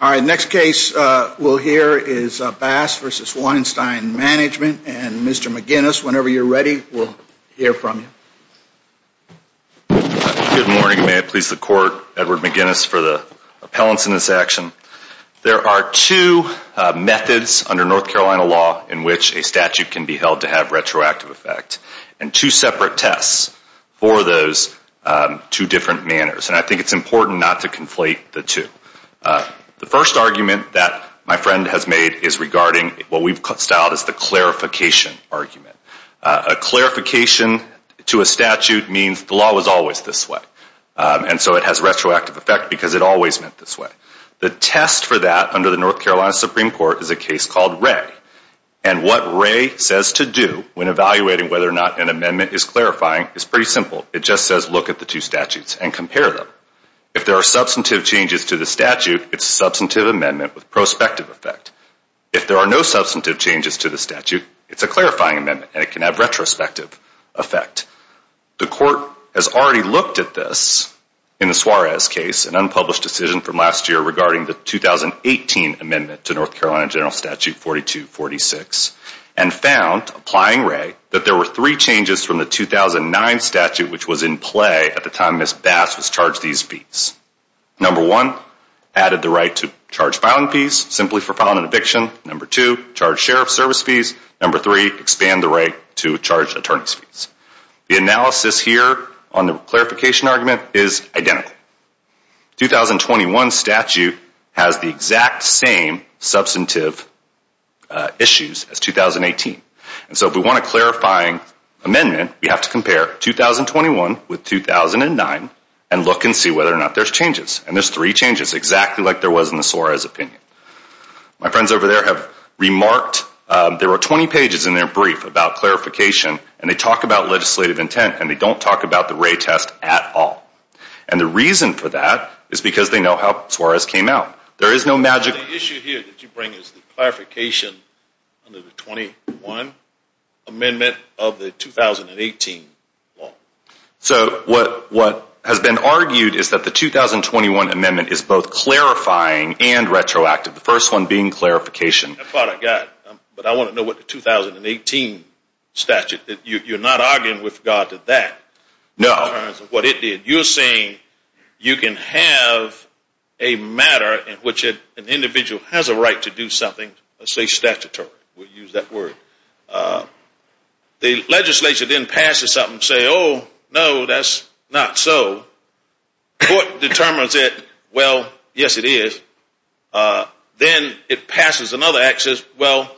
Next case we will hear is Bass v. Weinstein Management and Mr. McGinnis, whenever you are ready, we will hear from you. Good morning, may it please the Court, Edward McGinnis for the appellants in this action. There are two methods under North Carolina law in which a statute can be held to have retroactive effect and two separate tests for those two different manners. And I think it is important not to conflate the two. The first argument that my friend has made is regarding what we have styled as the clarification argument. A clarification to a statute means the law was always this way. And so it has retroactive effect because it always meant this way. The test for that under the North Carolina Supreme Court is a case called Ray. And what Ray says to do when evaluating whether or not an amendment is clarifying is pretty simple. It just says look at the two statutes and compare them. If there are substantive changes to the statute, it is a substantive amendment with prospective effect. If there are no substantive changes to the statute, it is a clarifying amendment and it can have retrospective effect. The Court has already looked at this in the Suarez case, an unpublished decision from last year regarding the 2018 amendment to North Carolina General Statute 4246 and found, applying Ray, that there were three changes from the 2009 statute which was in play at the time Ms. Bass was charged these fees. Number one, added the right to charge filing fees simply for filing an eviction. Number two, charge sheriff service fees. Number three, expand the right to charge attorney's fees. The analysis here on the clarification argument is identical. The 2021 statute has the exact same substantive issues as 2018. So if we want a clarifying amendment, we have to compare 2021 with 2009 and look and see whether or not there's changes. And there's three changes, exactly like there was in the Suarez opinion. My friends over there have remarked there were 20 pages in their brief about clarification and they talk about legislative intent and they don't talk about the Ray test at all. And the reason for that is because they know how Suarez came out. There is no magic. The issue here that you bring is the clarification under the 21 amendment of the 2018 law. So what has been argued is that the 2021 amendment is both clarifying and retroactive, the first one being clarification. That part I got, but I want to know what the 2018 statute, you're not arguing with God did that. No. You're saying you can have a matter in which an individual has a right to do something statutory, we'll use that word. The legislature then passes something and says, oh, no, that's not so. Court determines it, well, yes, it is. Then it passes another act and says, well,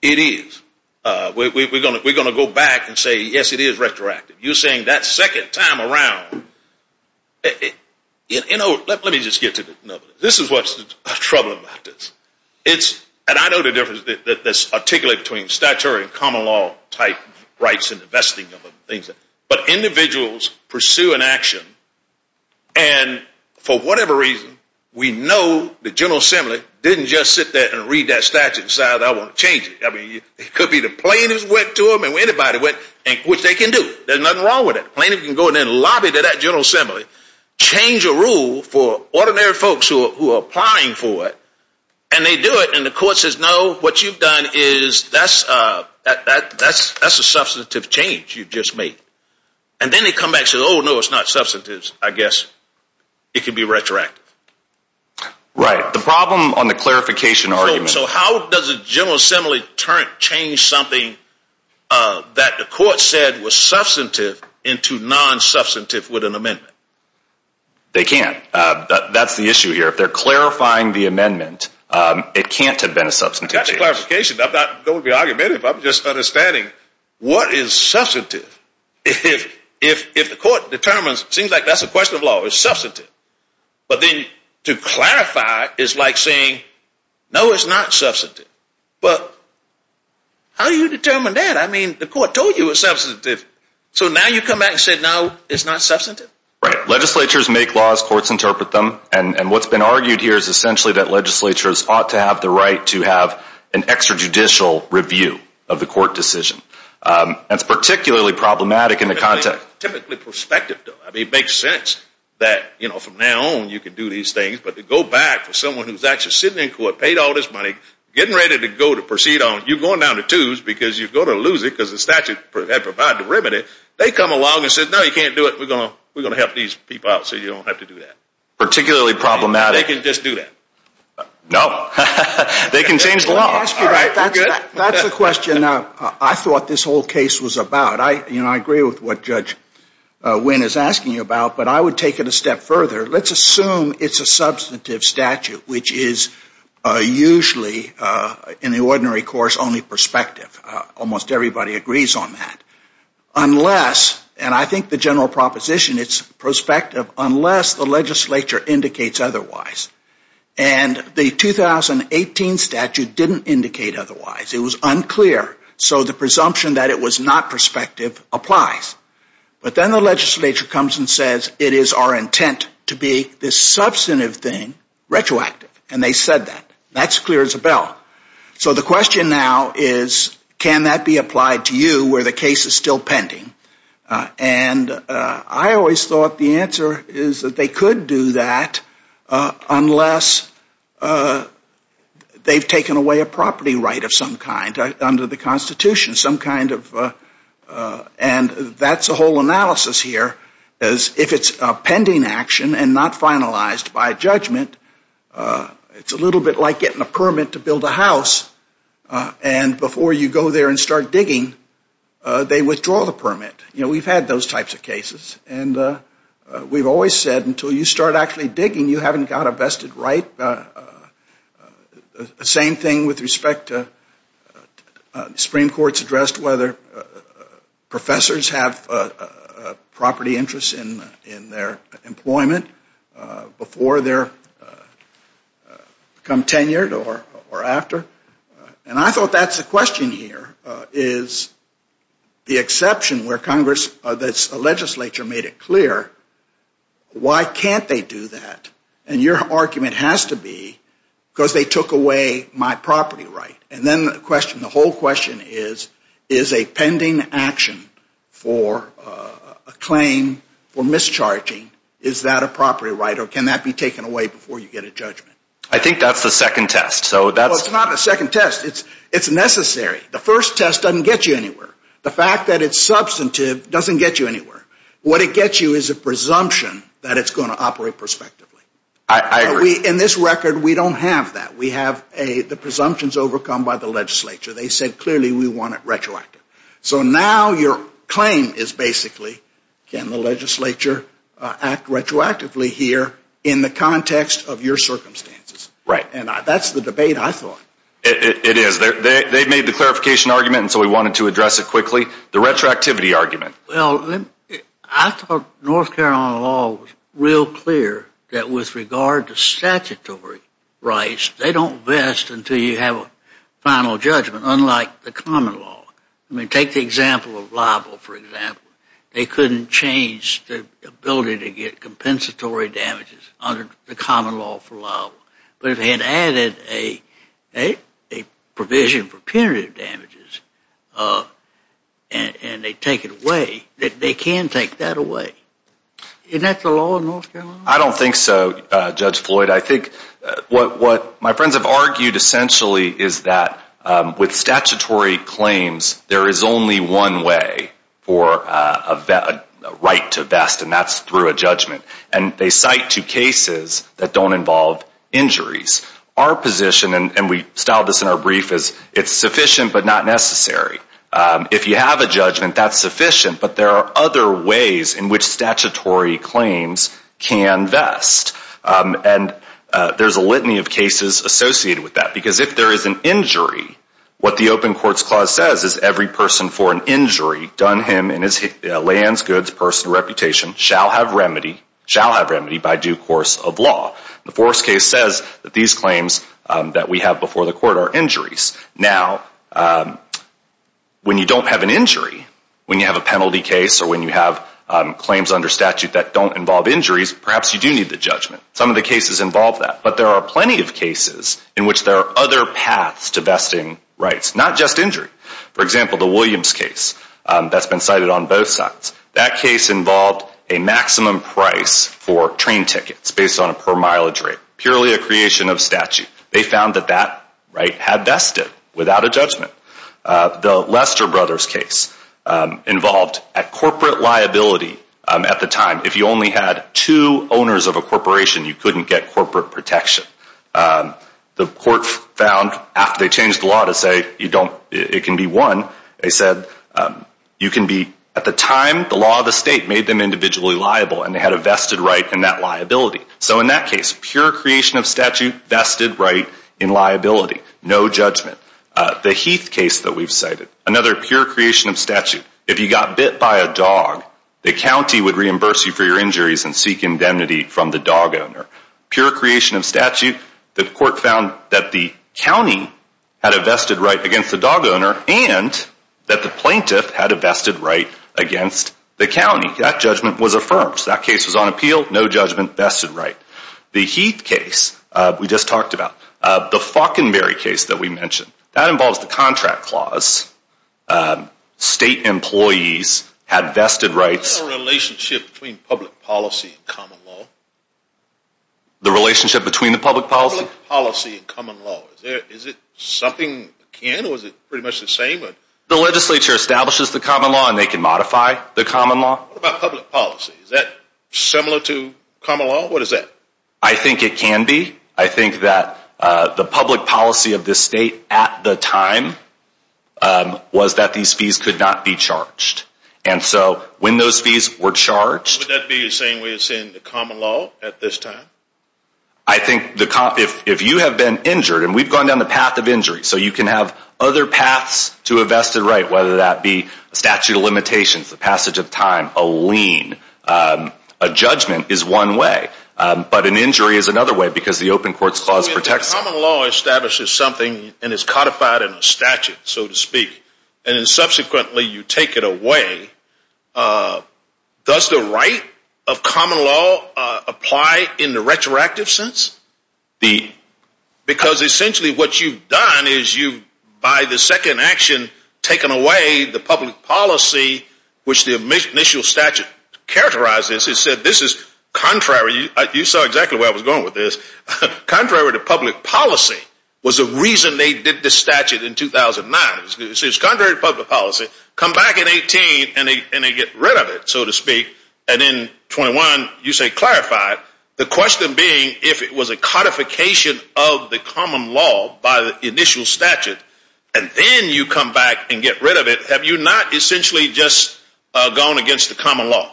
it is. We're going to go back and say, yes, it is retroactive. You're saying that second time around. Let me just get to this. This is what's the trouble about this. And I know the difference that's articulated between statutory and common law type rights and investing. But individuals pursue an action and for whatever reason, we know the General Assembly didn't just sit there and read that statute and say, I want to change it. It could be the plaintiffs went to them and anybody went, which they can do. There's nothing wrong with it. Plaintiffs can go in and lobby to that General Assembly, change a rule for ordinary folks who are applying for it. And they do it and the court says, no, what you've done is that's a substantive change you've just made. And then they come back and say, oh, no, it's not substantive, I guess. It could be retroactive. Right. The problem on the clarification argument. So how does a General Assembly change something that the court said was substantive into non-substantive with an amendment? They can't. That's the issue here. If they're clarifying the amendment, it can't have been a substantive change. That's a clarification. I'm not going to be argumentative. I'm just understanding what is substantive. But then to clarify is like saying, no, it's not substantive. But how do you determine that? I mean, the court told you it was substantive. So now you come back and say, no, it's not substantive? Right. Legislatures make laws, courts interpret them. And what's been argued here is essentially that legislatures ought to have the right to have an extrajudicial review of the court decision. That's particularly problematic in the context. Typically prospective, though. It makes sense that from now on, you can do these things. But to go back to someone who's actually sitting in court, paid all this money, getting ready to go to proceed on, you're going down to twos because you're going to lose it because the statute had provided a remedy. They come along and said, no, you can't do it. We're going to help these people out so you don't have to do that. Particularly problematic. They can just do that. No. They can change the law. All right. We're good. That's the question I thought this whole case was about. I agree with what Judge Wynn is asking about, but I would take it a step further. Let's assume it's a substantive statute, which is usually, in the ordinary course, only prospective. Almost everybody agrees on that, unless, and I think the general proposition, it's prospective unless the legislature indicates otherwise. And the 2018 statute didn't indicate otherwise. It was unclear. So the presumption that it was not prospective applies. But then the legislature comes and says, it is our intent to be this substantive thing retroactive. And they said that. That's clear as a bell. So the question now is, can that be applied to you where the case is still pending? And I always thought the answer is that they could do that unless they've taken away a constitution, some kind of, and that's a whole analysis here, is if it's a pending action and not finalized by judgment, it's a little bit like getting a permit to build a house. And before you go there and start digging, they withdraw the permit. We've had those types of cases. And we've always said, until you start actually digging, you haven't got a vested right. The same thing with respect to Supreme Court's addressed whether professors have property interests in their employment before they become tenured or after. And I thought that's the question here, is the exception where Congress, that's the legislature made it clear, why can't they do that? And your argument has to be because they took away my property right. And then the question, the whole question is, is a pending action for a claim for mischarging, is that a property right or can that be taken away before you get a judgment? I think that's the second test. So that's... Well, it's not the second test. It's necessary. The first test doesn't get you anywhere. The fact that it's substantive doesn't get you anywhere. What it gets you is a presumption that it's going to operate prospectively. In this record, we don't have that. We have the presumptions overcome by the legislature. They said clearly we want it retroactive. So now your claim is basically, can the legislature act retroactively here in the context of your circumstances? Right. And that's the debate I thought. It is. They made the clarification argument and so we wanted to address it quickly. The retroactivity argument. Well, I thought North Carolina law was real clear that with regard to statutory rights, they don't vest until you have a final judgment, unlike the common law. I mean, take the example of libel, for example. They couldn't change the ability to get compensatory damages under the common law for libel. But if they had added a provision for punitive damages and they take it away, they can take that away. Isn't that the law in North Carolina? I don't think so, Judge Floyd. I think what my friends have argued essentially is that with statutory claims, there is only one way for a right to vest and that's through a judgment. And they cite two cases that don't involve injuries. Our position, and we styled this in our brief, is it's sufficient but not necessary. If you have a judgment, that's sufficient. But there are other ways in which statutory claims can vest. And there's a litany of cases associated with that. Because if there is an injury, what the Open Courts Clause says is every person for an shall have remedy by due course of law. The Forrest case says that these claims that we have before the court are injuries. Now, when you don't have an injury, when you have a penalty case or when you have claims under statute that don't involve injuries, perhaps you do need the judgment. Some of the cases involve that. But there are plenty of cases in which there are other paths to vesting rights, not just injury. For example, the Williams case that's been cited on both sides. That case involved a maximum price for train tickets based on a per-mileage rate, purely a creation of statute. They found that that right had vested without a judgment. The Lester Brothers case involved a corporate liability at the time. If you only had two owners of a corporation, you couldn't get corporate protection. The court found after they changed the law to say it can be one, they said you can be one. At the time, the law of the state made them individually liable and they had a vested right in that liability. So in that case, pure creation of statute, vested right in liability, no judgment. The Heath case that we've cited, another pure creation of statute. If you got bit by a dog, the county would reimburse you for your injuries and seek indemnity from the dog owner. Pure creation of statute, the court found that the county had a vested right against the dog owner and that the plaintiff had a vested right against the county. That judgment was affirmed. So that case was on appeal, no judgment, vested right. The Heath case we just talked about, the Faulkenberry case that we mentioned, that involves the contract clause. State employees had vested rights. What's the relationship between public policy and common law? The relationship between the public policy? Public policy and common law. Is it something that can or is it pretty much the same? The legislature establishes the common law and they can modify the common law. What about public policy? Is that similar to common law? What is that? I think it can be. I think that the public policy of this state at the time was that these fees could not be charged. And so when those fees were charged. Would that be the same way as in the common law at this time? I think if you have been injured, and we've gone down the path of injury, so you can have other paths to a vested right, whether that be statute of limitations, the passage of time, a lien, a judgment is one way, but an injury is another way because the open courts clause protects it. Common law establishes something and is codified in a statute, so to speak, and then subsequently you take it away. Does the right of common law apply in the retroactive sense? Because essentially what you've done is you, by the second action, taken away the public policy, which the initial statute characterized as, it said this is contrary, you saw exactly where I was going with this, contrary to public policy was the reason they did this statute in 2009. It says contrary to public policy, come back in 18 and they get rid of it, so to speak, and in 21 you say clarified, the question being if it was a codification of the common law by the initial statute, and then you come back and get rid of it, have you not essentially just gone against the common law?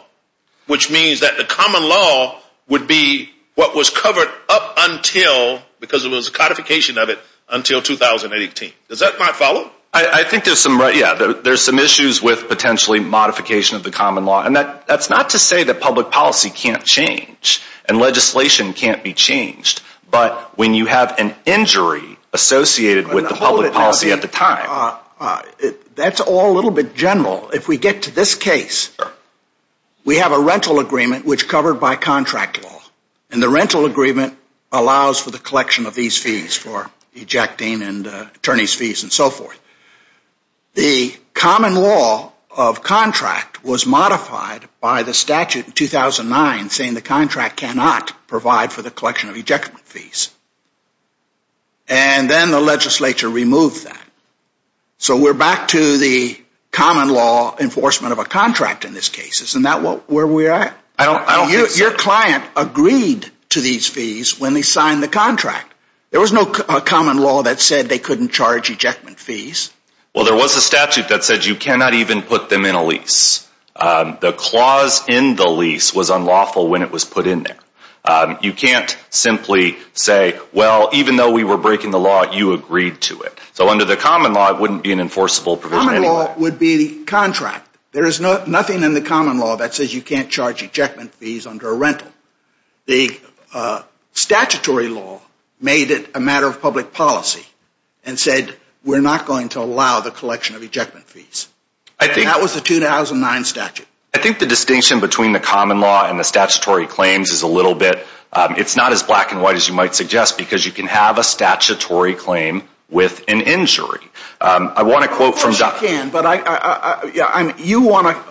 Which means that the common law would be what was covered up until, because it was a codification of it, until 2018. Does that make follow? I think there's some, yeah, there's some issues with potentially modification of the common law, and that's not to say that public policy can't change and legislation can't be changed, but when you have an injury associated with the public policy at the time. That's all a little bit general. If we get to this case, we have a rental agreement which covered by contract law, and the rental agreement allows for the collection of these fees for ejecting and attorney's fees and so forth. The common law of contract was modified by the statute in 2009 saying the contract cannot provide for the collection of ejection fees, and then the legislature removed that. So we're back to the common law enforcement of a contract in this case, isn't that where we're at? I don't think so. Your client agreed to these fees when they signed the contract. There was no common law that said they couldn't charge ejection fees. Well, there was a statute that said you cannot even put them in a lease. The clause in the lease was unlawful when it was put in there. You can't simply say, well, even though we were breaking the law, you agreed to it. So under the common law, it wouldn't be an enforceable provision anyway. Common law would be the contract. There is nothing in the common law that says you can't charge ejection fees under a rental. The statutory law made it a matter of public policy and said we're not going to allow the collection of ejection fees. That was the 2009 statute. I think the distinction between the common law and the statutory claims is a little bit – it's not as black and white as you might suggest because you can have a statutory claim with an injury. I want to quote from – Of course you can, but you want to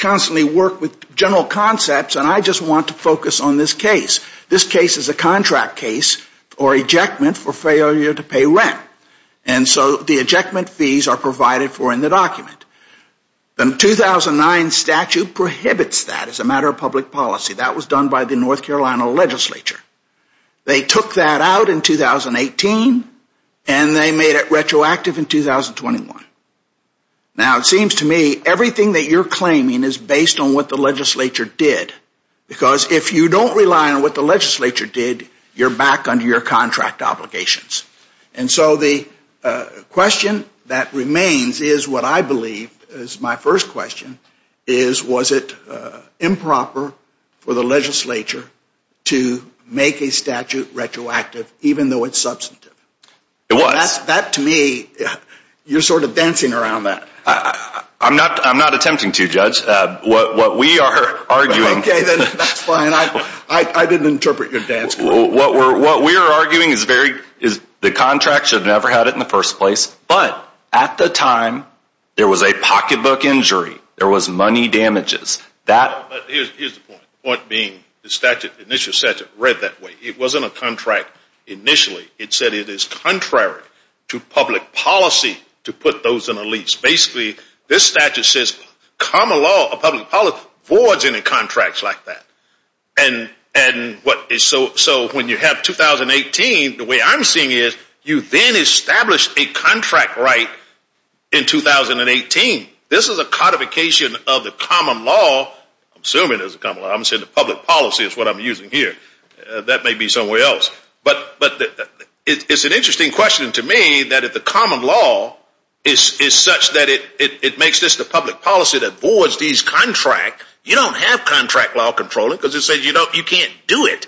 constantly work with general concepts and I just want to focus on this case. This case is a contract case or ejectment for failure to pay rent. And so the ejectment fees are provided for in the document. The 2009 statute prohibits that as a matter of public policy. That was done by the North Carolina legislature. They took that out in 2018 and they made it retroactive in 2021. Now it seems to me everything that you're claiming is based on what the legislature did because if you don't rely on what the legislature did, you're back under your contract obligations. And so the question that remains is what I believe is my first question is was it improper for the legislature to make a statute retroactive even though it's substantive? It was. That to me, you're sort of dancing around that. I'm not attempting to, Judge. What we are arguing – Okay, then that's fine. I didn't interpret your dance. What we're arguing is the contract should have never had it in the first place, but at the time there was a pocketbook injury. There was money damages. Here's the point. The point being the initial statute read that way. It wasn't a contract initially. It said it is contrary to public policy to put those in a lease. Basically, this statute says common law or public policy forwards any contracts like that. So when you have 2018, the way I'm seeing it, you then establish a contract right in 2018. This is a codification of the common law, I'm assuming there's a common law. I'm saying the public policy is what I'm using here. That may be somewhere else. But it's an interesting question to me that if the common law is such that it makes this the public policy that forwards these contracts, you don't have contract law control because it says you can't do it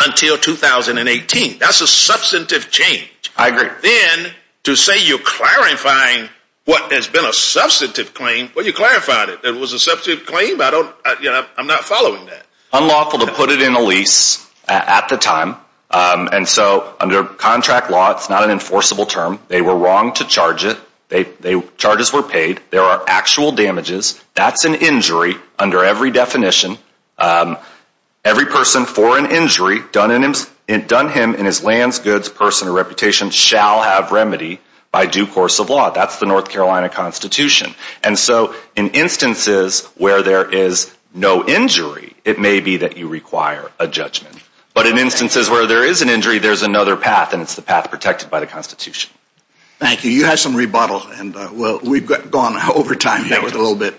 until 2018. That's a substantive change. I agree. Then to say you're clarifying what has been a substantive claim, well you clarified it. It was a substantive claim. I'm not following that. Unlawful to put it in a lease at the time. And so under contract law, it's not an enforceable term. They were wrong to charge it. Charges were paid. There are actual damages. That's an injury under every definition. Every person for an injury done him in his lands, goods, person, or reputation shall have remedy by due course of law. That's the North Carolina Constitution. And so in instances where there is no injury, it may be that you require a judgment. But in instances where there is an injury, there's another path, and it's the path protected by the Constitution. Thank you. You have some rebuttal. And we've gone over time here with a little bit.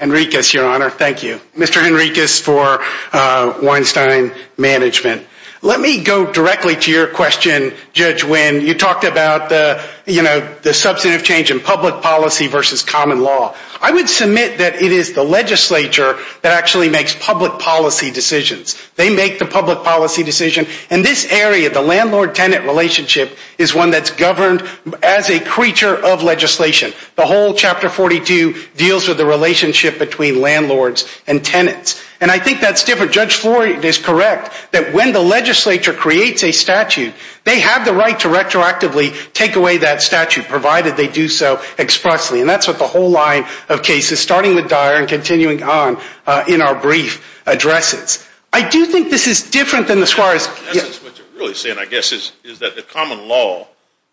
Enriquez, Your Honor. Thank you. Mr. Enriquez for Weinstein Management. Let me go directly to your question, Judge Wynn. You talked about the substantive change in public policy versus common law. I would submit that it is the legislature that actually makes public policy decisions. They make the public policy decision. In this area, the landlord-tenant relationship is one that's governed as a creature of legislation. The whole Chapter 42 deals with the relationship between landlords and tenants. And I think that's different. Judge Floyd is correct that when the legislature creates a statute, they have the right to retroactively take away that statute, provided they do so expressly. And that's what the whole line of cases, starting with Dyer and continuing on in our brief addresses. I do think this is different than the Suarez case. That's what you're really saying, I guess, is that the common law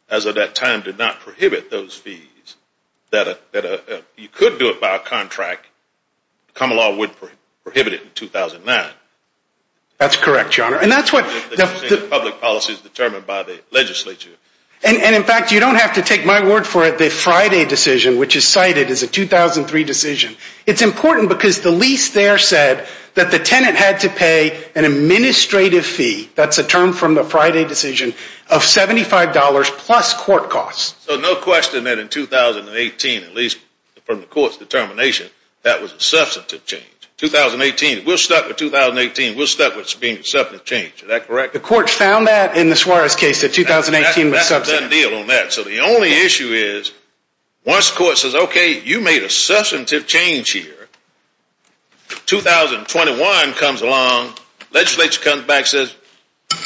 as of that time did not prohibit those fees. You could do it by a contract. Common law wouldn't prohibit it in 2009. That's correct, Your Honor. And that's what the public policy is determined by the legislature. And in fact, you don't have to take my word for it, the Friday decision, which is cited as a 2003 decision, it's important because the lease there said that the tenant had to pay an administrative fee, that's a term from the Friday decision, of $75 plus court costs. So no question that in 2018, at least from the court's determination, that was a substantive change. 2018, we're stuck with 2018, we're stuck with it being a substantive change, is that correct? The court found that in the Suarez case, that 2018 was a substantive change. That's a done deal on that. So the only issue is, once the court says, okay, you made a substantive change here, 2021 comes along, legislature comes back and says,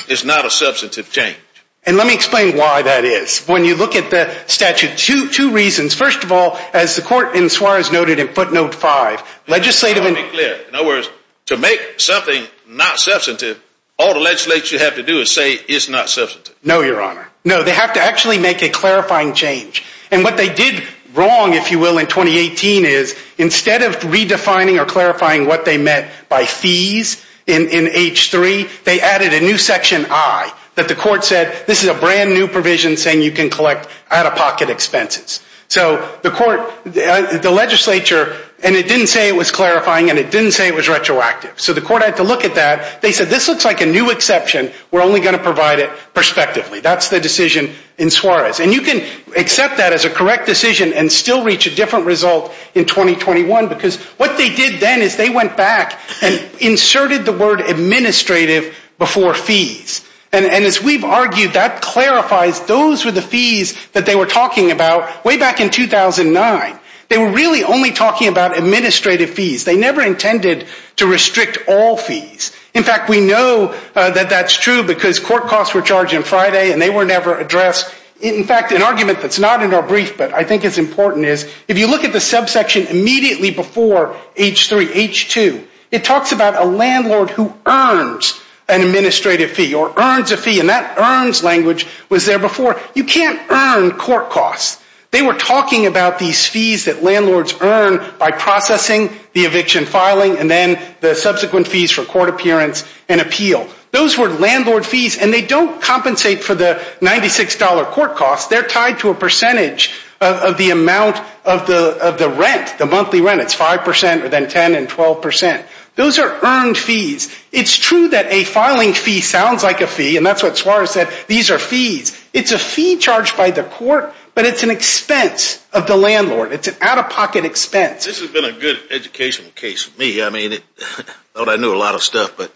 it's not a substantive change. And let me explain why that is. When you look at the statute, two reasons. First of all, as the court in Suarez noted in footnote five, legislative- Let me be clear. In other words, to make something not substantive, all the legislature have to do is say it's not substantive. No, your honor. No, they have to actually make a clarifying change. And what they did wrong, if you will, in 2018 is, instead of redefining or clarifying what they meant by fees in H3, they added a new section I, that the court said, this is a brand new provision saying you can collect out-of-pocket expenses. So the court, the legislature, and it didn't say it was clarifying and it didn't say it was retroactive. So the court had to look at that. They said, this looks like a new exception. We're only going to provide it prospectively. That's the decision in Suarez. And you can accept that as a correct decision and still reach a different result in 2021 because what they did then is they went back and inserted the word administrative before fees. And as we've argued, that clarifies those were the fees that they were talking about way back in 2009. They were really only talking about administrative fees. They never intended to restrict all fees. In fact, we know that that's true because court costs were charged on Friday and they were never addressed. In fact, an argument that's not in our brief, but I think it's important, is if you look at the subsection immediately before H3, H2, it talks about a landlord who earns an administrative fee or earns a fee and that earns language was there before. You can't earn court costs. They were talking about these fees that landlords earn by processing the eviction filing and then the subsequent fees for court appearance and appeal. Those were landlord fees and they don't compensate for the $96 court costs. They're tied to a percentage of the amount of the rent, the monthly rent. It's 5% or then 10 and 12%. Those are earned fees. It's true that a filing fee sounds like a fee and that's what Suarez said. These are fees. It's a fee charged by the court, but it's an expense of the landlord. It's an out-of-pocket expense. This has been a good educational case for me. I mean, I thought I knew a lot of stuff, but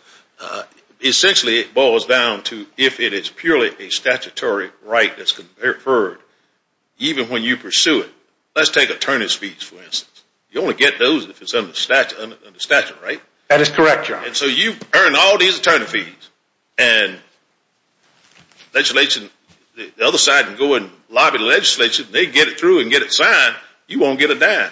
essentially it boils down to if it is purely a statutory right that's conferred, even when you pursue it, let's take attorney's fees for instance. That is correct, John. And so you earn all these attorney fees and the other side can go and lobby the legislature and they can get it through and get it signed. You won't get a dime.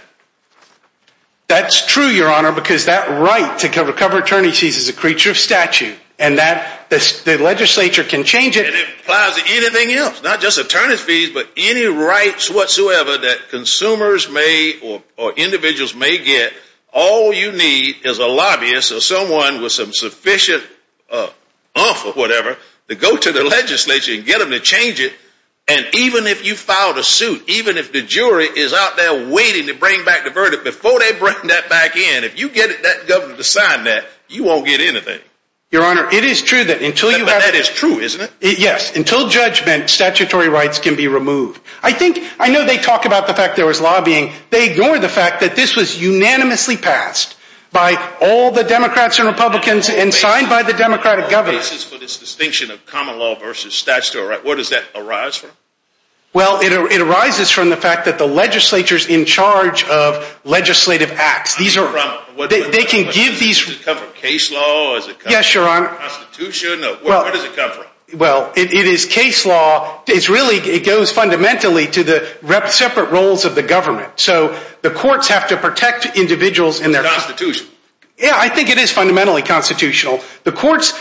That's true, Your Honor, because that right to cover attorney fees is a creature of statute and the legislature can change it. And it applies to anything else, not just attorney's fees, but any rights whatsoever that consumers may or individuals may get. All you need is a lobbyist or someone with some sufficient oomph or whatever to go to the legislature and get them to change it. And even if you filed a suit, even if the jury is out there waiting to bring back the verdict before they bring that back in, if you get that governor to sign that, you won't get anything. Your Honor, it is true that until you have... That is true, isn't it? Yes. Until judgment, statutory rights can be removed. I think, I know they talk about the fact there was lobbying. They ignore the fact that this was unanimously passed by all the Democrats and Republicans and signed by the Democratic governor. ...basis for this distinction of common law versus statutory rights. Where does that arise from? Well, it arises from the fact that the legislature's in charge of legislative acts. These are... They can give these... Does it come from case law? Yes, Your Honor. Is it constitution? Where does it come from? Well, it is case law. It's really, it goes fundamentally to the separate roles of the government. So the courts have to protect individuals and their... Is it constitution? Yeah, I think it is fundamentally constitutional. The courts,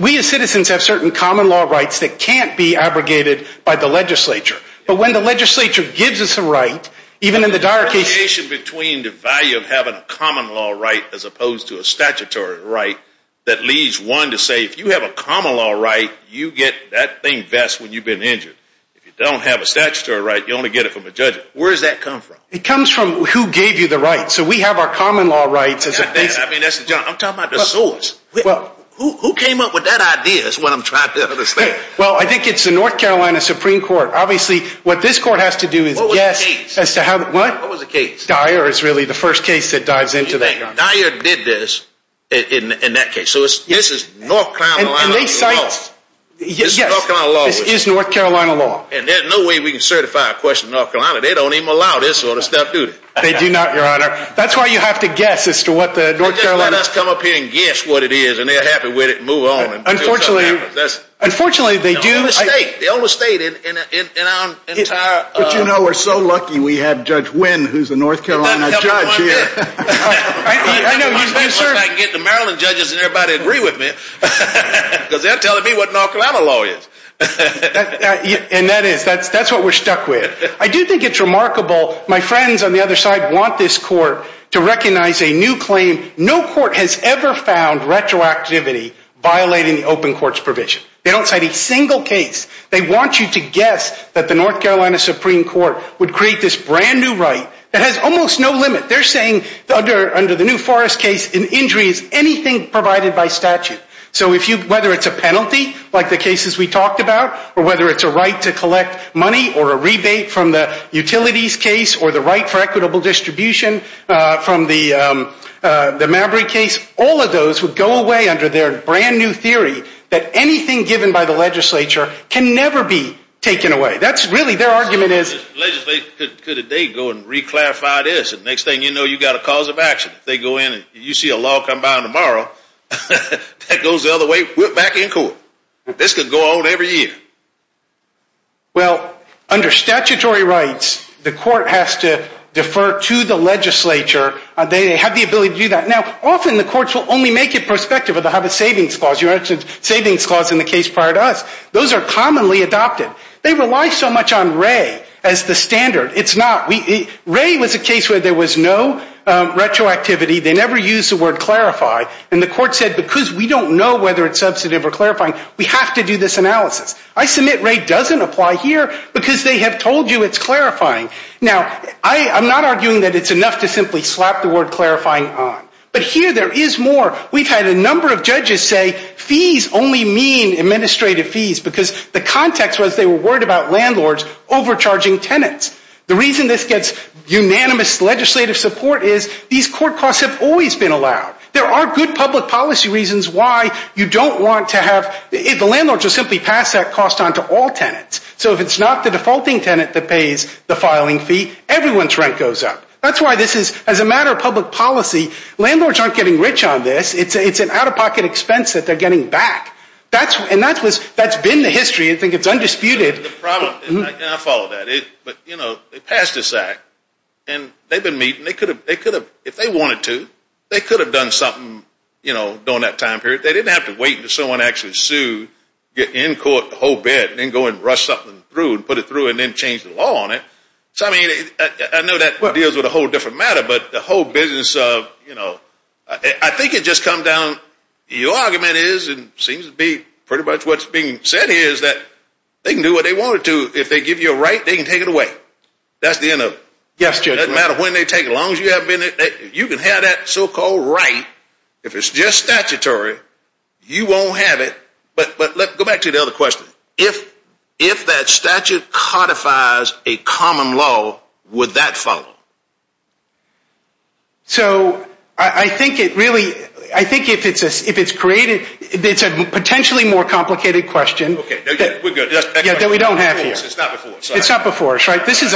we as citizens have certain common law rights that can't be abrogated by the legislature. But when the legislature gives us a right, even in the dire case... The distinction between the value of having a common law right as opposed to a statutory right that leads one to say, if you have a common law right, you get that thing best when you've been injured. If you don't have a statutory right, you only get it from a judge. Where does that come from? It comes from who gave you the right. So we have our common law rights as opposed to... I mean, that's the... I'm talking about the source. Who came up with that idea is what I'm trying to understand. Well, I think it's the North Carolina Supreme Court. Obviously, what this court has to do is... What was the case? What? What was the case? Dyer is really the first case that dives into that, Your Honor. Dyer did this in that case. So this is North Carolina law. And they cited... Yes. This is North Carolina law. This is North Carolina law. And there's no way we can certify a question in North Carolina. They don't even allow this sort of stuff, do they? They do not, Your Honor. That's why you have to guess as to what the North Carolina... They just let us come up here and guess what it is, and they're happy with it and move on. Unfortunately, that's... Unfortunately, they do... They own the state. They own the state in our entire... But you know, we're so lucky we have Judge Nguyen, who's a North Carolina judge here. I know you, sir... I'll get the Maryland judges and everybody will agree with me, because they're telling me what North Carolina law is. And that is... That's what we're stuck with. I do think it's remarkable. My friends on the other side want this court to recognize a new claim. No court has ever found retroactivity violating the open court's provision. They don't cite a single case. They want you to guess that the North Carolina Supreme Court would create this brand new right that has almost no limit. They're saying under the new Forrest case, an injury is anything provided by statute. So if you... Whether it's a penalty, like the cases we talked about, or whether it's a right to collect money or a rebate from the utilities case, or the right for equitable distribution from the Mabry case, all of those would go away under their brand new theory that anything given by the legislature can never be taken away. That's really... Their argument is... The legislature could today go and re-clarify this, and next thing you know, you've got a cause of action. If they go in and you see a law come by tomorrow, that goes the other way, we're back in court. This could go on every year. Well, under statutory rights, the court has to defer to the legislature. They have the ability to do that. Now, often the courts will only make it prospective or they'll have a savings clause. You mentioned savings clause in the case prior to us. Those are commonly adopted. They rely so much on Wray as the standard. It's not. Wray was a case where there was no retroactivity. They never used the word clarify, and the court said because we don't know whether it's substantive or clarifying, we have to do this analysis. I submit Wray doesn't apply here because they have told you it's clarifying. Now, I'm not arguing that it's enough to simply slap the word clarifying on, but here there is more. We've had a number of judges say fees only mean administrative fees because the context was they were worried about landlords overcharging tenants. The reason this gets unanimous legislative support is these court costs have always been allowed. There are good public policy reasons why you don't want to have the landlord just simply pass that cost on to all tenants. So if it's not the defaulting tenant that pays the filing fee, everyone's rent goes up. That's why this is, as a matter of public policy, landlords aren't getting rich on this. It's an out-of-pocket expense that they're getting back. That's been the history. I think it's undisputed. I follow that. But, you know, they passed this act, and they've been meeting, and they could have, if they wanted to, they could have done something, you know, during that time period. They didn't have to wait until someone actually sued, get in court, the whole bit, and then go and rush something through and put it through and then change the law on it. So, I mean, I know that deals with a whole different matter, but the whole business of, you know, I think it just comes down, your argument is and seems to be pretty much what's being said here is that they can do what they wanted to. If they give you a right, they can take it away. That's the end of it. Yes, Judge. It doesn't matter when they take it. As long as you can have that so-called right, if it's just statutory, you won't have it. But let's go back to the other question. If that statute codifies a common law, would that follow? So, I think it really, I think if it's created, it's a potentially more complicated question. Okay, we're good. That's the next question. Yeah, that we don't have here. It's not before. It's not before, right? This is,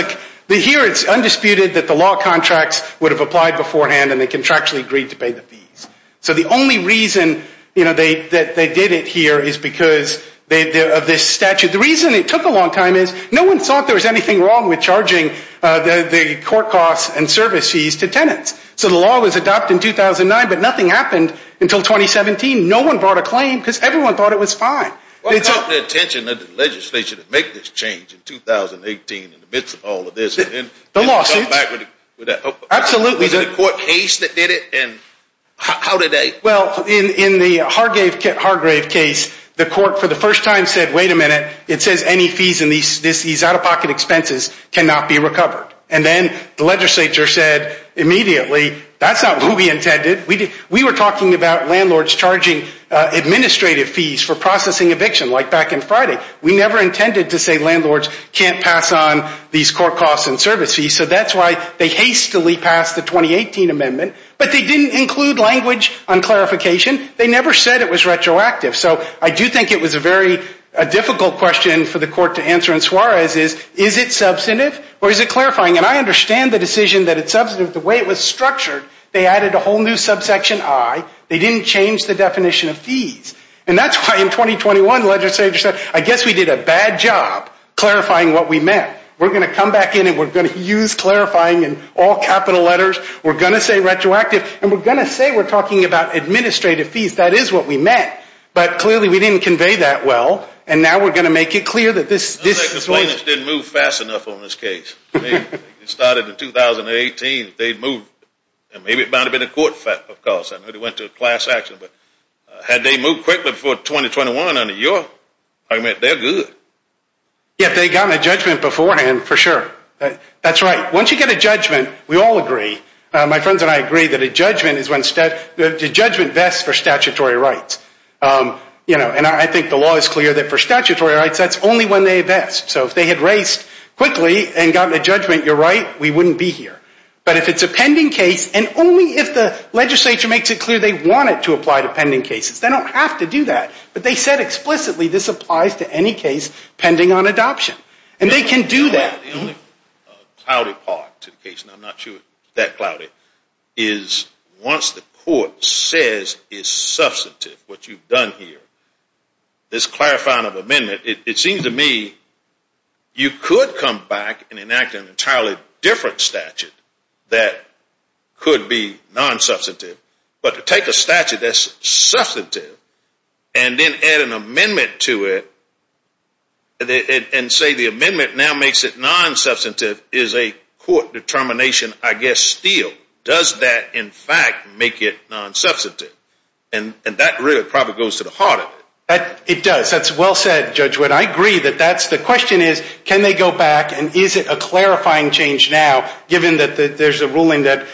here it's undisputed that the law contracts would have applied beforehand and they contractually agreed to pay the fees. So the only reason, you know, that they did it here is because of this statute. The reason it took a long time is no one thought there was anything wrong with charging the court costs and service fees to tenants. So the law was adopted in 2009, but nothing happened until 2017. No one brought a claim because everyone thought it was fine. What about the attention of the legislature to make this change in 2018 in the midst of all of this? The lawsuits? Absolutely. Was it the court case that did it? How did they? Well, in the Hargrave case, the court for the first time said, wait a minute. It says any fees in these out-of-pocket expenses cannot be recovered. And then the legislature said immediately, that's not what we intended. We were talking about landlords charging administrative fees for processing eviction, like back in Friday. We never intended to say landlords can't pass on these court costs and service fees. So that's why they hastily passed the 2018 amendment. But they didn't include language on clarification. They never said it was retroactive. So I do think it was a very difficult question for the court to answer in Suarez is, is it clarifying? And I understand the decision that it's substantive. The way it was structured, they added a whole new subsection I. They didn't change the definition of fees. And that's why in 2021, the legislature said, I guess we did a bad job clarifying what we meant. We're going to come back in and we're going to use clarifying in all capital letters. We're going to say retroactive and we're going to say we're talking about administrative fees. That is what we meant. But clearly, we didn't convey that well. And now we're going to make it clear that this, this didn't move fast enough on this case. It started in 2018. They moved. And maybe it might have been a court fact, of course, I know they went to a class action, but had they moved quickly before 2021 under your argument, they're good. Yeah, they got a judgment beforehand, for sure. That's right. Once you get a judgment, we all agree. My friends and I agree that a judgment is when the judgment vests for statutory rights. And I think the law is clear that for statutory rights, that's only when they vest. So if they had raced quickly and gotten a judgment, you're right, we wouldn't be here. But if it's a pending case, and only if the legislature makes it clear they want it to apply to pending cases, they don't have to do that. But they said explicitly this applies to any case pending on adoption. And they can do that. The only cloudy part to the case, and I'm not sure it's that cloudy, is once the court says it's substantive, what you've done here, this clarifying of amendment, it seems to me you could come back and enact an entirely different statute that could be non-substantive. But to take a statute that's substantive, and then add an amendment to it, and say the amendment now makes it non-substantive, is a court determination, I guess, still. Does that, in fact, make it non-substantive? And that really probably goes to the heart of it. It does. That's well said, Judge Wood. I agree that that's the question is, can they go back, and is it a clarifying change now given that there's a ruling that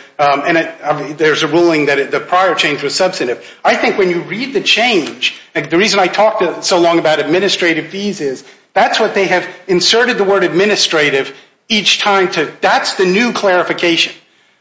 the prior change was substantive? I think when you read the change, the reason I talked so long about administrative fees is that's what they have inserted the word administrative each time. That's the new clarification.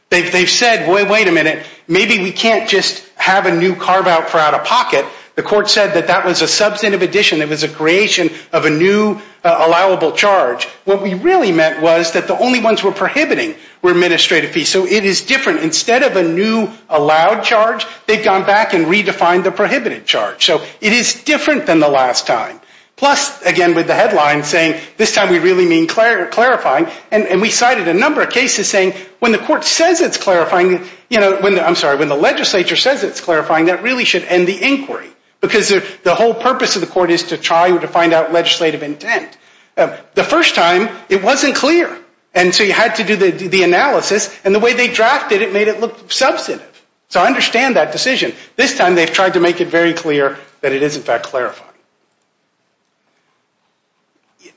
They've said, wait a minute, maybe we can't just have a new carve-out for out-of-pocket. The court said that that was a substantive addition. It was a creation of a new allowable charge. What we really meant was that the only ones we're prohibiting were administrative fees. So it is different. Instead of a new allowed charge, they've gone back and redefined the prohibited charge. So it is different than the last time. Plus, again, with the headline saying, this time we really mean clarifying. And we cited a number of cases saying, when the court says it's clarifying, I'm sorry, when the legislature says it's clarifying, that really should end the inquiry. Because the whole purpose of the court is to try to find out legislative intent. The first time, it wasn't clear. And so you had to do the analysis. And the way they drafted it made it look substantive. So I understand that decision. This time, they've tried to make it very clear that it is, in fact, clarifying.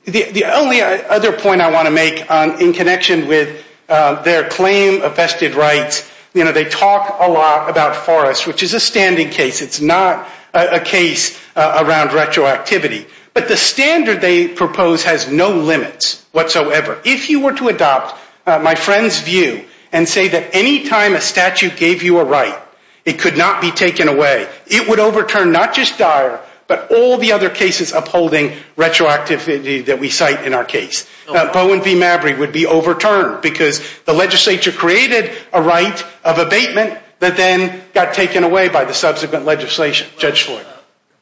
The only other point I want to make in connection with their claim of vested rights, you know, they talk a lot about Forrest, which is a standing case. It's not a case around retroactivity. But the standard they propose has no limits whatsoever. If you were to adopt my friend's view and say that any time a statute gave you a right, it could not be taken away, it would overturn not just Dyer, but all the other cases upholding retroactivity that we cite in our case. Bowen v. Mabry would be overturned, because the legislature created a right of abatement that then got taken away by the subsequent legislation. Judge Floyd. In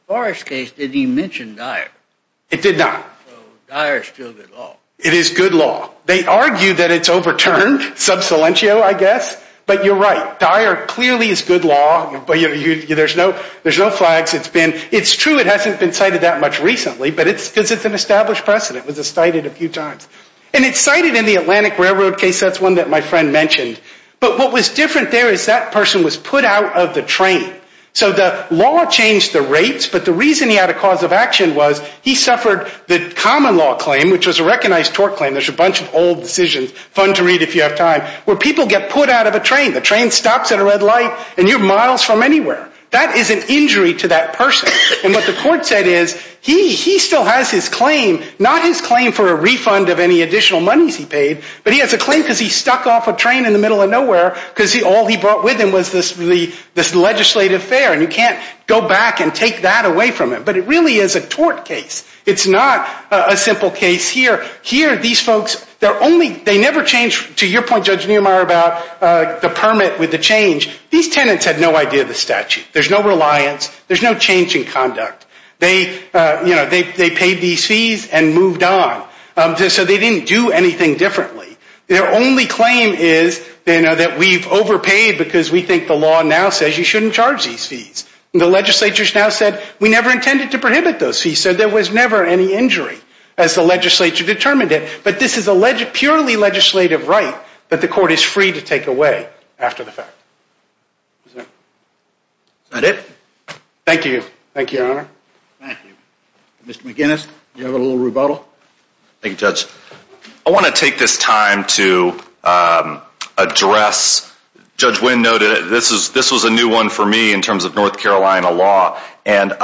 Forrest's case, did he mention Dyer? It did not. So Dyer is still good law? It is good law. They argue that it's overturned, sub silentio, I guess. But you're right. Dyer clearly is good law. There's no flags. It's true it hasn't been cited that much recently, but it's because it's an established precedent. It was cited a few times. And it's cited in the Atlantic Railroad case. That's one that my friend mentioned. But what was different there is that person was put out of the train. So the law changed the rates, but the reason he had a cause of action was he suffered the common law claim, which was a recognized tort claim. There's a bunch of old decisions, fun to read if you have time, where people get put out of a train. The train stops at a red light, and you're miles from anywhere. That is an injury to that person. And what the court said is, he still has his claim, not his claim for a refund of any additional monies he paid, but he has a claim because he stuck off a train in the middle of nowhere because all he brought with him was this legislative fare, and you can't go back and take that away from him. But it really is a tort case. It's not a simple case here. Here, these folks, they never changed, to your point, Judge Niemeyer, about the permit with the change. These tenants had no idea of the statute. There's no reliance. There's no change in conduct. They paid these fees and moved on. So they didn't do anything differently. Their only claim is that we've overpaid because we think the law now says you shouldn't charge these fees. The legislature's now said, we never intended to prohibit those fees. So there was never any injury as the legislature determined it. But this is a purely legislative right that the court is Is that it? Thank you. Thank you, Your Honor. Thank you. Mr. McGinnis, do you have a little rebuttal? Thank you, Judge. I want to take this time to address, Judge Wynn noted, this was a new one for me in terms of North Carolina law. And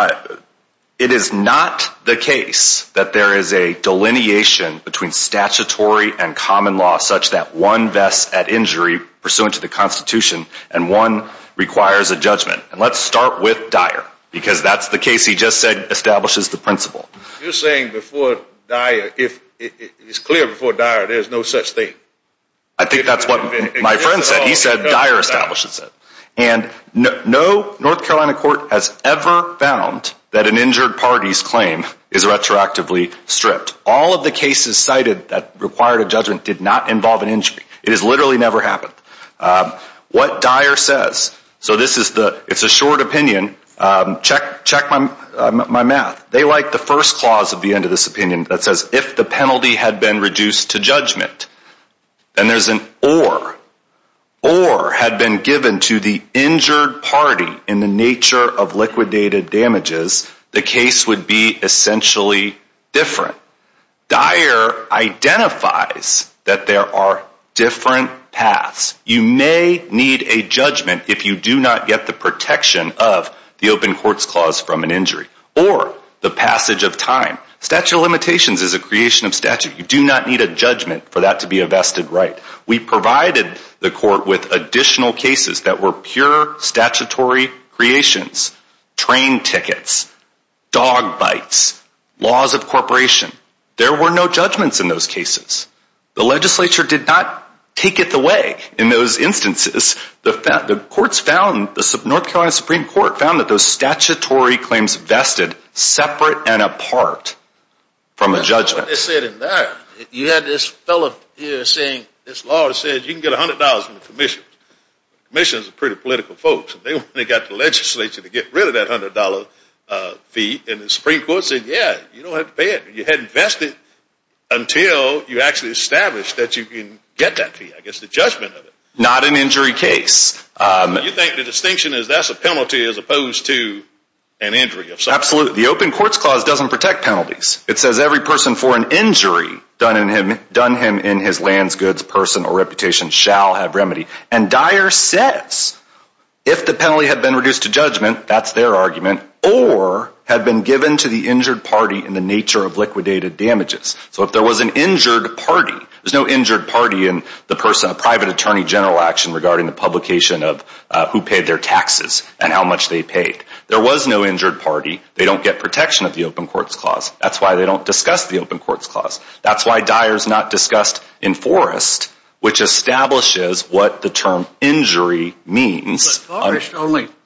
it is not the case that there is a delineation between statutory and common law such that one vests at injury pursuant to the Constitution and one requires a judgment. And let's start with Dyer. Because that's the case he just said establishes the principle. You're saying before Dyer, if it's clear before Dyer, there's no such thing? I think that's what my friend said. He said Dyer establishes it. And no North Carolina court has ever found that an injured party's claim is retroactively stripped. All of the cases cited that required a judgment did not involve an injury. It has literally never happened. What Dyer says, so this is the, it's a short opinion. Check my math. They like the first clause of the end of this opinion that says, if the penalty had been reduced to judgment, then there's an or. Or had been given to the injured party in the nature of liquidated damages, the case would be essentially different. Dyer identifies that there are different paths. You may need a judgment if you do not get the protection of the open courts clause from an injury or the passage of time. Statute of limitations is a creation of statute. You do not need a judgment for that to be a vested right. We provided the court with additional cases that were pure statutory creations. Train tickets, dog bites, laws of corporation. There were no judgments in those cases. The legislature did not take it away in those instances. The courts found, the North Carolina Supreme Court found that those statutory claims vested separate and apart from a judgment. That's what they said in there. You had this fellow here saying, this law says you can get $100 from the commission. Commissioners are pretty political folks. They got the legislature to get rid of that $100 fee. And the Supreme Court said, yeah, you don't have to pay it. You had invested until you actually established that you can get that fee. I guess the judgment of it. Not an injury case. You think the distinction is that's a penalty as opposed to an injury? Absolutely. The open courts clause doesn't protect penalties. It says every person for an injury done him in his lands, goods, personal reputation shall have remedy. And Dyer says if the penalty had been reduced to judgment, that's their argument, or had been given to the injured party in the nature of liquidated damages. So if there was an injured party, there's no injured party in the person, a private attorney general action regarding the publication of who paid their taxes and how much they paid. There was no injured party. They don't get protection of the open courts clause. That's why they don't discuss the open courts clause. That's why Dyer's not discussed in Forrest, which establishes what the term injury means. But Forrest,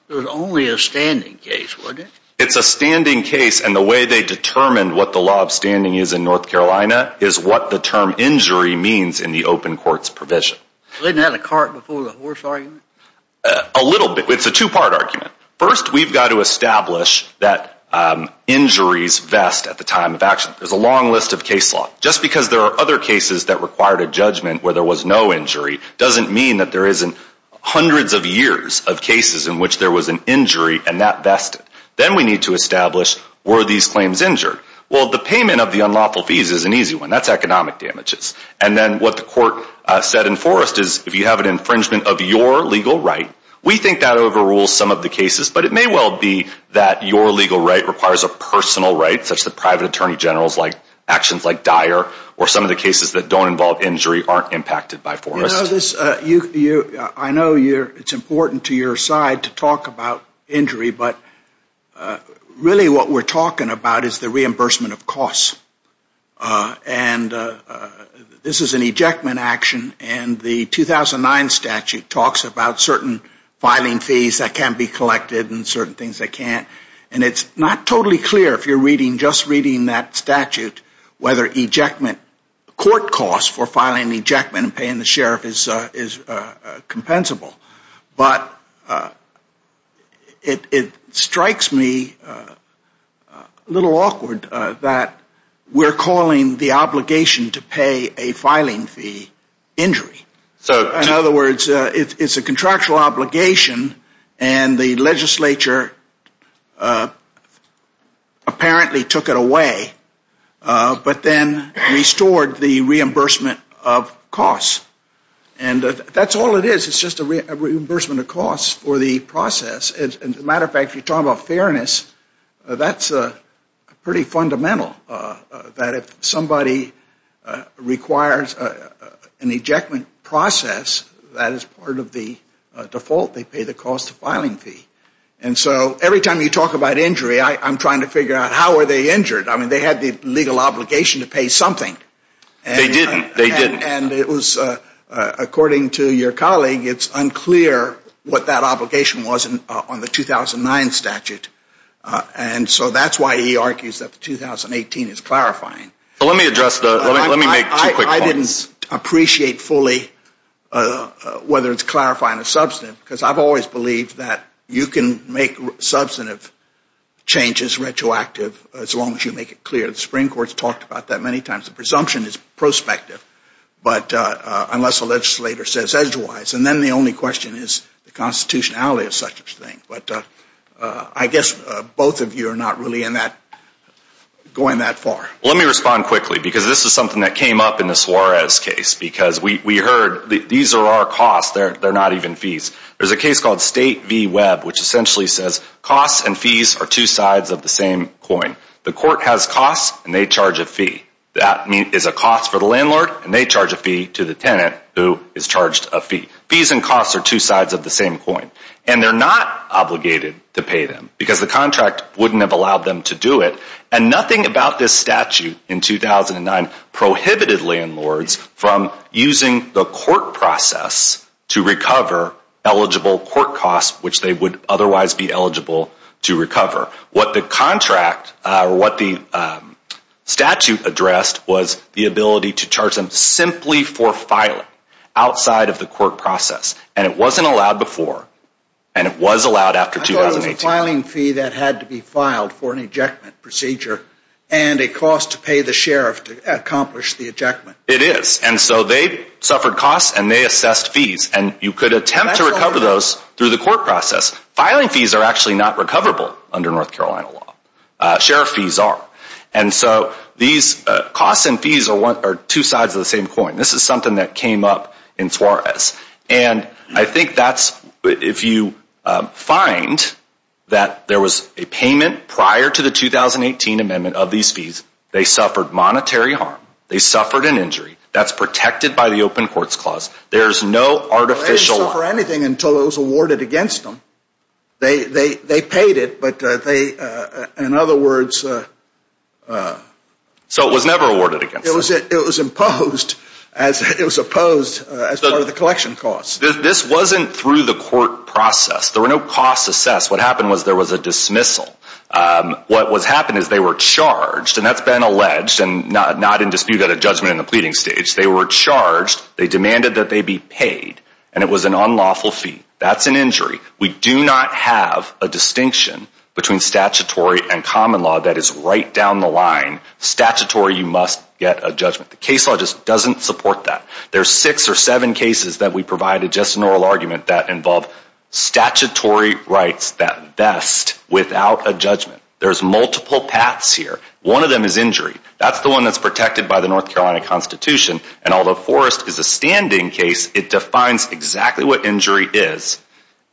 there was only a standing case, wasn't there? It's a standing case. And the way they determined what the law of standing is in North Carolina is what the term injury means in the open courts provision. Wasn't that a cart before the horse argument? A little bit. It's a two-part argument. First, we've got to establish that injuries vest at the time of action. There's a long list of case law. Just because there are other cases that required a judgment where there was no injury doesn't mean that there isn't hundreds of years of cases in which there was an injury and that vested. Then we need to establish, were these claims injured? Well, the payment of the unlawful fees is an easy one. That's economic damages. And then what the court said in Forrest is, if you have an infringement of your legal right, we think that overrules some of the cases. But it may well be that your legal right requires a personal right, such that private attorney generals like actions like Dyer or some of the cases that don't involve injury aren't impacted by Forrest. You know this, I know it's important to your side to talk about injury, but really what we're talking about is the reimbursement of costs. And this is an ejectment action. And the 2009 statute talks about certain filing fees that can be collected and certain things they can't. And it's not totally clear if you're just reading that statute whether court costs for filing an ejectment and paying the sheriff is compensable. But it strikes me a little awkward that we're calling the obligation to pay a filing fee injury. In other words, it's a contractual obligation and the legislature apparently took it away, but then restored the reimbursement of costs. And that's all it is. It's just a reimbursement of costs for the process. As a matter of fact, if you're talking about fairness, that's pretty fundamental that if somebody requires an ejectment process, that is part of the default. They pay the cost of filing fee. And so every time you talk about injury, I'm trying to figure out how are they injured. I mean, they had the legal obligation to pay something. They didn't. They didn't. And it was, according to your colleague, it's unclear what that obligation was on the 2009 statute. And so that's why he argues that the 2018 is clarifying. But let me address the, let me make two quick points. I didn't appreciate fully whether it's clarifying a substantive, because I've always believed that you can make substantive changes retroactive as long as you make it clear. The Supreme Court's talked about that many times. The presumption is prospective, but unless a legislator says otherwise. And then the only question is the constitutionality of such a thing. But I guess both of you are not really in that, going that far. Let me respond quickly, because this is something that came up in the Suarez case. Because we heard, these are our costs, they're not even fees. There's a case called State v. Webb, which essentially says costs and fees are two sides of the same coin. The court has costs, and they charge a fee. That is a cost for the landlord, and they charge a fee to the tenant, who is charged a fee. Fees and costs are two sides of the same coin. And they're not obligated to pay them, because the contract wouldn't have allowed them to do it. And nothing about this statute in 2009 prohibited landlords from using the court process to recover eligible court costs, which they would otherwise be eligible to recover. What the contract, or what the statute addressed, was the ability to charge them simply for filing, outside of the court process. And it wasn't allowed before. And it was allowed after 2018. Filing fee that had to be filed for an ejectment procedure, and a cost to pay the sheriff to accomplish the ejectment. It is. And so they suffered costs, and they assessed fees. And you could attempt to recover those through the court process. Filing fees are actually not recoverable under North Carolina law. Sheriff fees are. And so these costs and fees are two sides of the same coin. This is something that came up in Suarez. And I think that's, if you find that there was a payment prior to the 2018 amendment of these fees, they suffered monetary harm. They suffered an injury. That's protected by the Open Courts Clause. There's no artificial. They didn't suffer anything until it was awarded against them. They paid it, but they, in other words. So it was never awarded against them. It was imposed as part of the collection costs. This wasn't through the court process. There were no costs assessed. What happened was there was a dismissal. What happened is they were charged. And that's been alleged. And not in dispute at a judgment in the pleading stage. They were charged. They demanded that they be paid. And it was an unlawful fee. That's an injury. We do not have a distinction between statutory and common law. That is right down the line. Statutory, you must get a judgment. The case law just doesn't support that. There's six or seven cases that we provided just an oral argument that involve statutory rights that vest without a judgment. There's multiple paths here. One of them is injury. That's the one that's protected by the North Carolina Constitution. And although Forrest is a standing case, it defines exactly what injury is.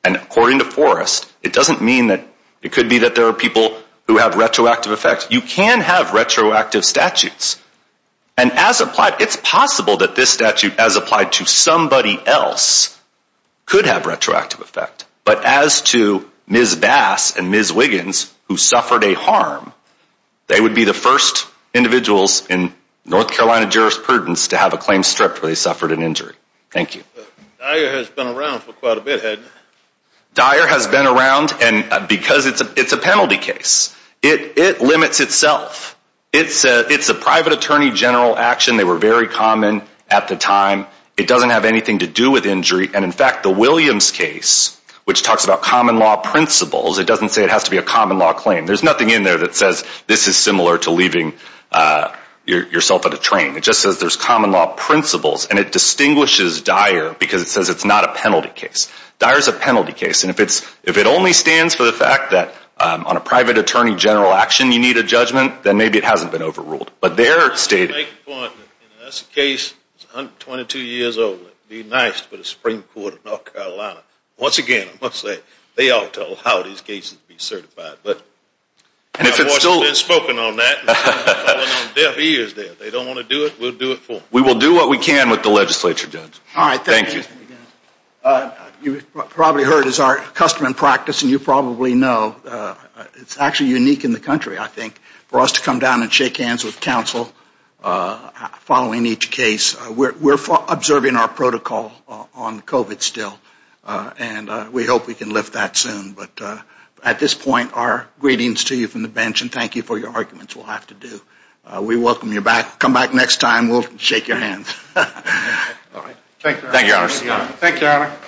And according to Forrest, it doesn't mean that it could be that there are people who have retroactive effects. You can have retroactive statutes. And as applied, it's possible that this statute, as applied to somebody else, could have retroactive effect. But as to Ms. Bass and Ms. Wiggins, who suffered a harm, they would be the first individuals in North Carolina jurisprudence to have a claim stripped where they suffered an injury. Thank you. Dyer has been around for quite a bit, hadn't he? Dyer has been around. And because it's a penalty case, it limits itself. It's a private attorney general action. They were very common at the time. It doesn't have anything to do with injury. And in fact, the Williams case, which talks about common law principles, it doesn't say it has to be a common law claim. There's nothing in there that says this is similar to leaving yourself at a train. It just says there's common law principles. And it distinguishes Dyer because it says it's not a penalty case. Dyer's a penalty case. If it only stands for the fact that on a private attorney general action you need a judgment, then maybe it hasn't been overruled. But there it stated... I want to make a point. That's a case that's 122 years old. It would be nice to put a Supreme Court in North Carolina. Once again, I must say, they ought to allow these cases to be certified. But I've already been spoken on that. I've been on deaf ears there. They don't want to do it. We'll do it for them. We will do what we can with the legislature, Judge. All right. Thank you. You've probably heard it's our custom and practice. And you probably know it's actually unique in the country, I think, for us to come down and shake hands with counsel following each case. We're observing our protocol on COVID still. And we hope we can lift that soon. But at this point, our greetings to you from the bench. And thank you for your arguments. We'll have to do. We welcome you back. Come back next time. We'll shake your hands. All right. Thank you, Your Honors. Thank you, Your Honor.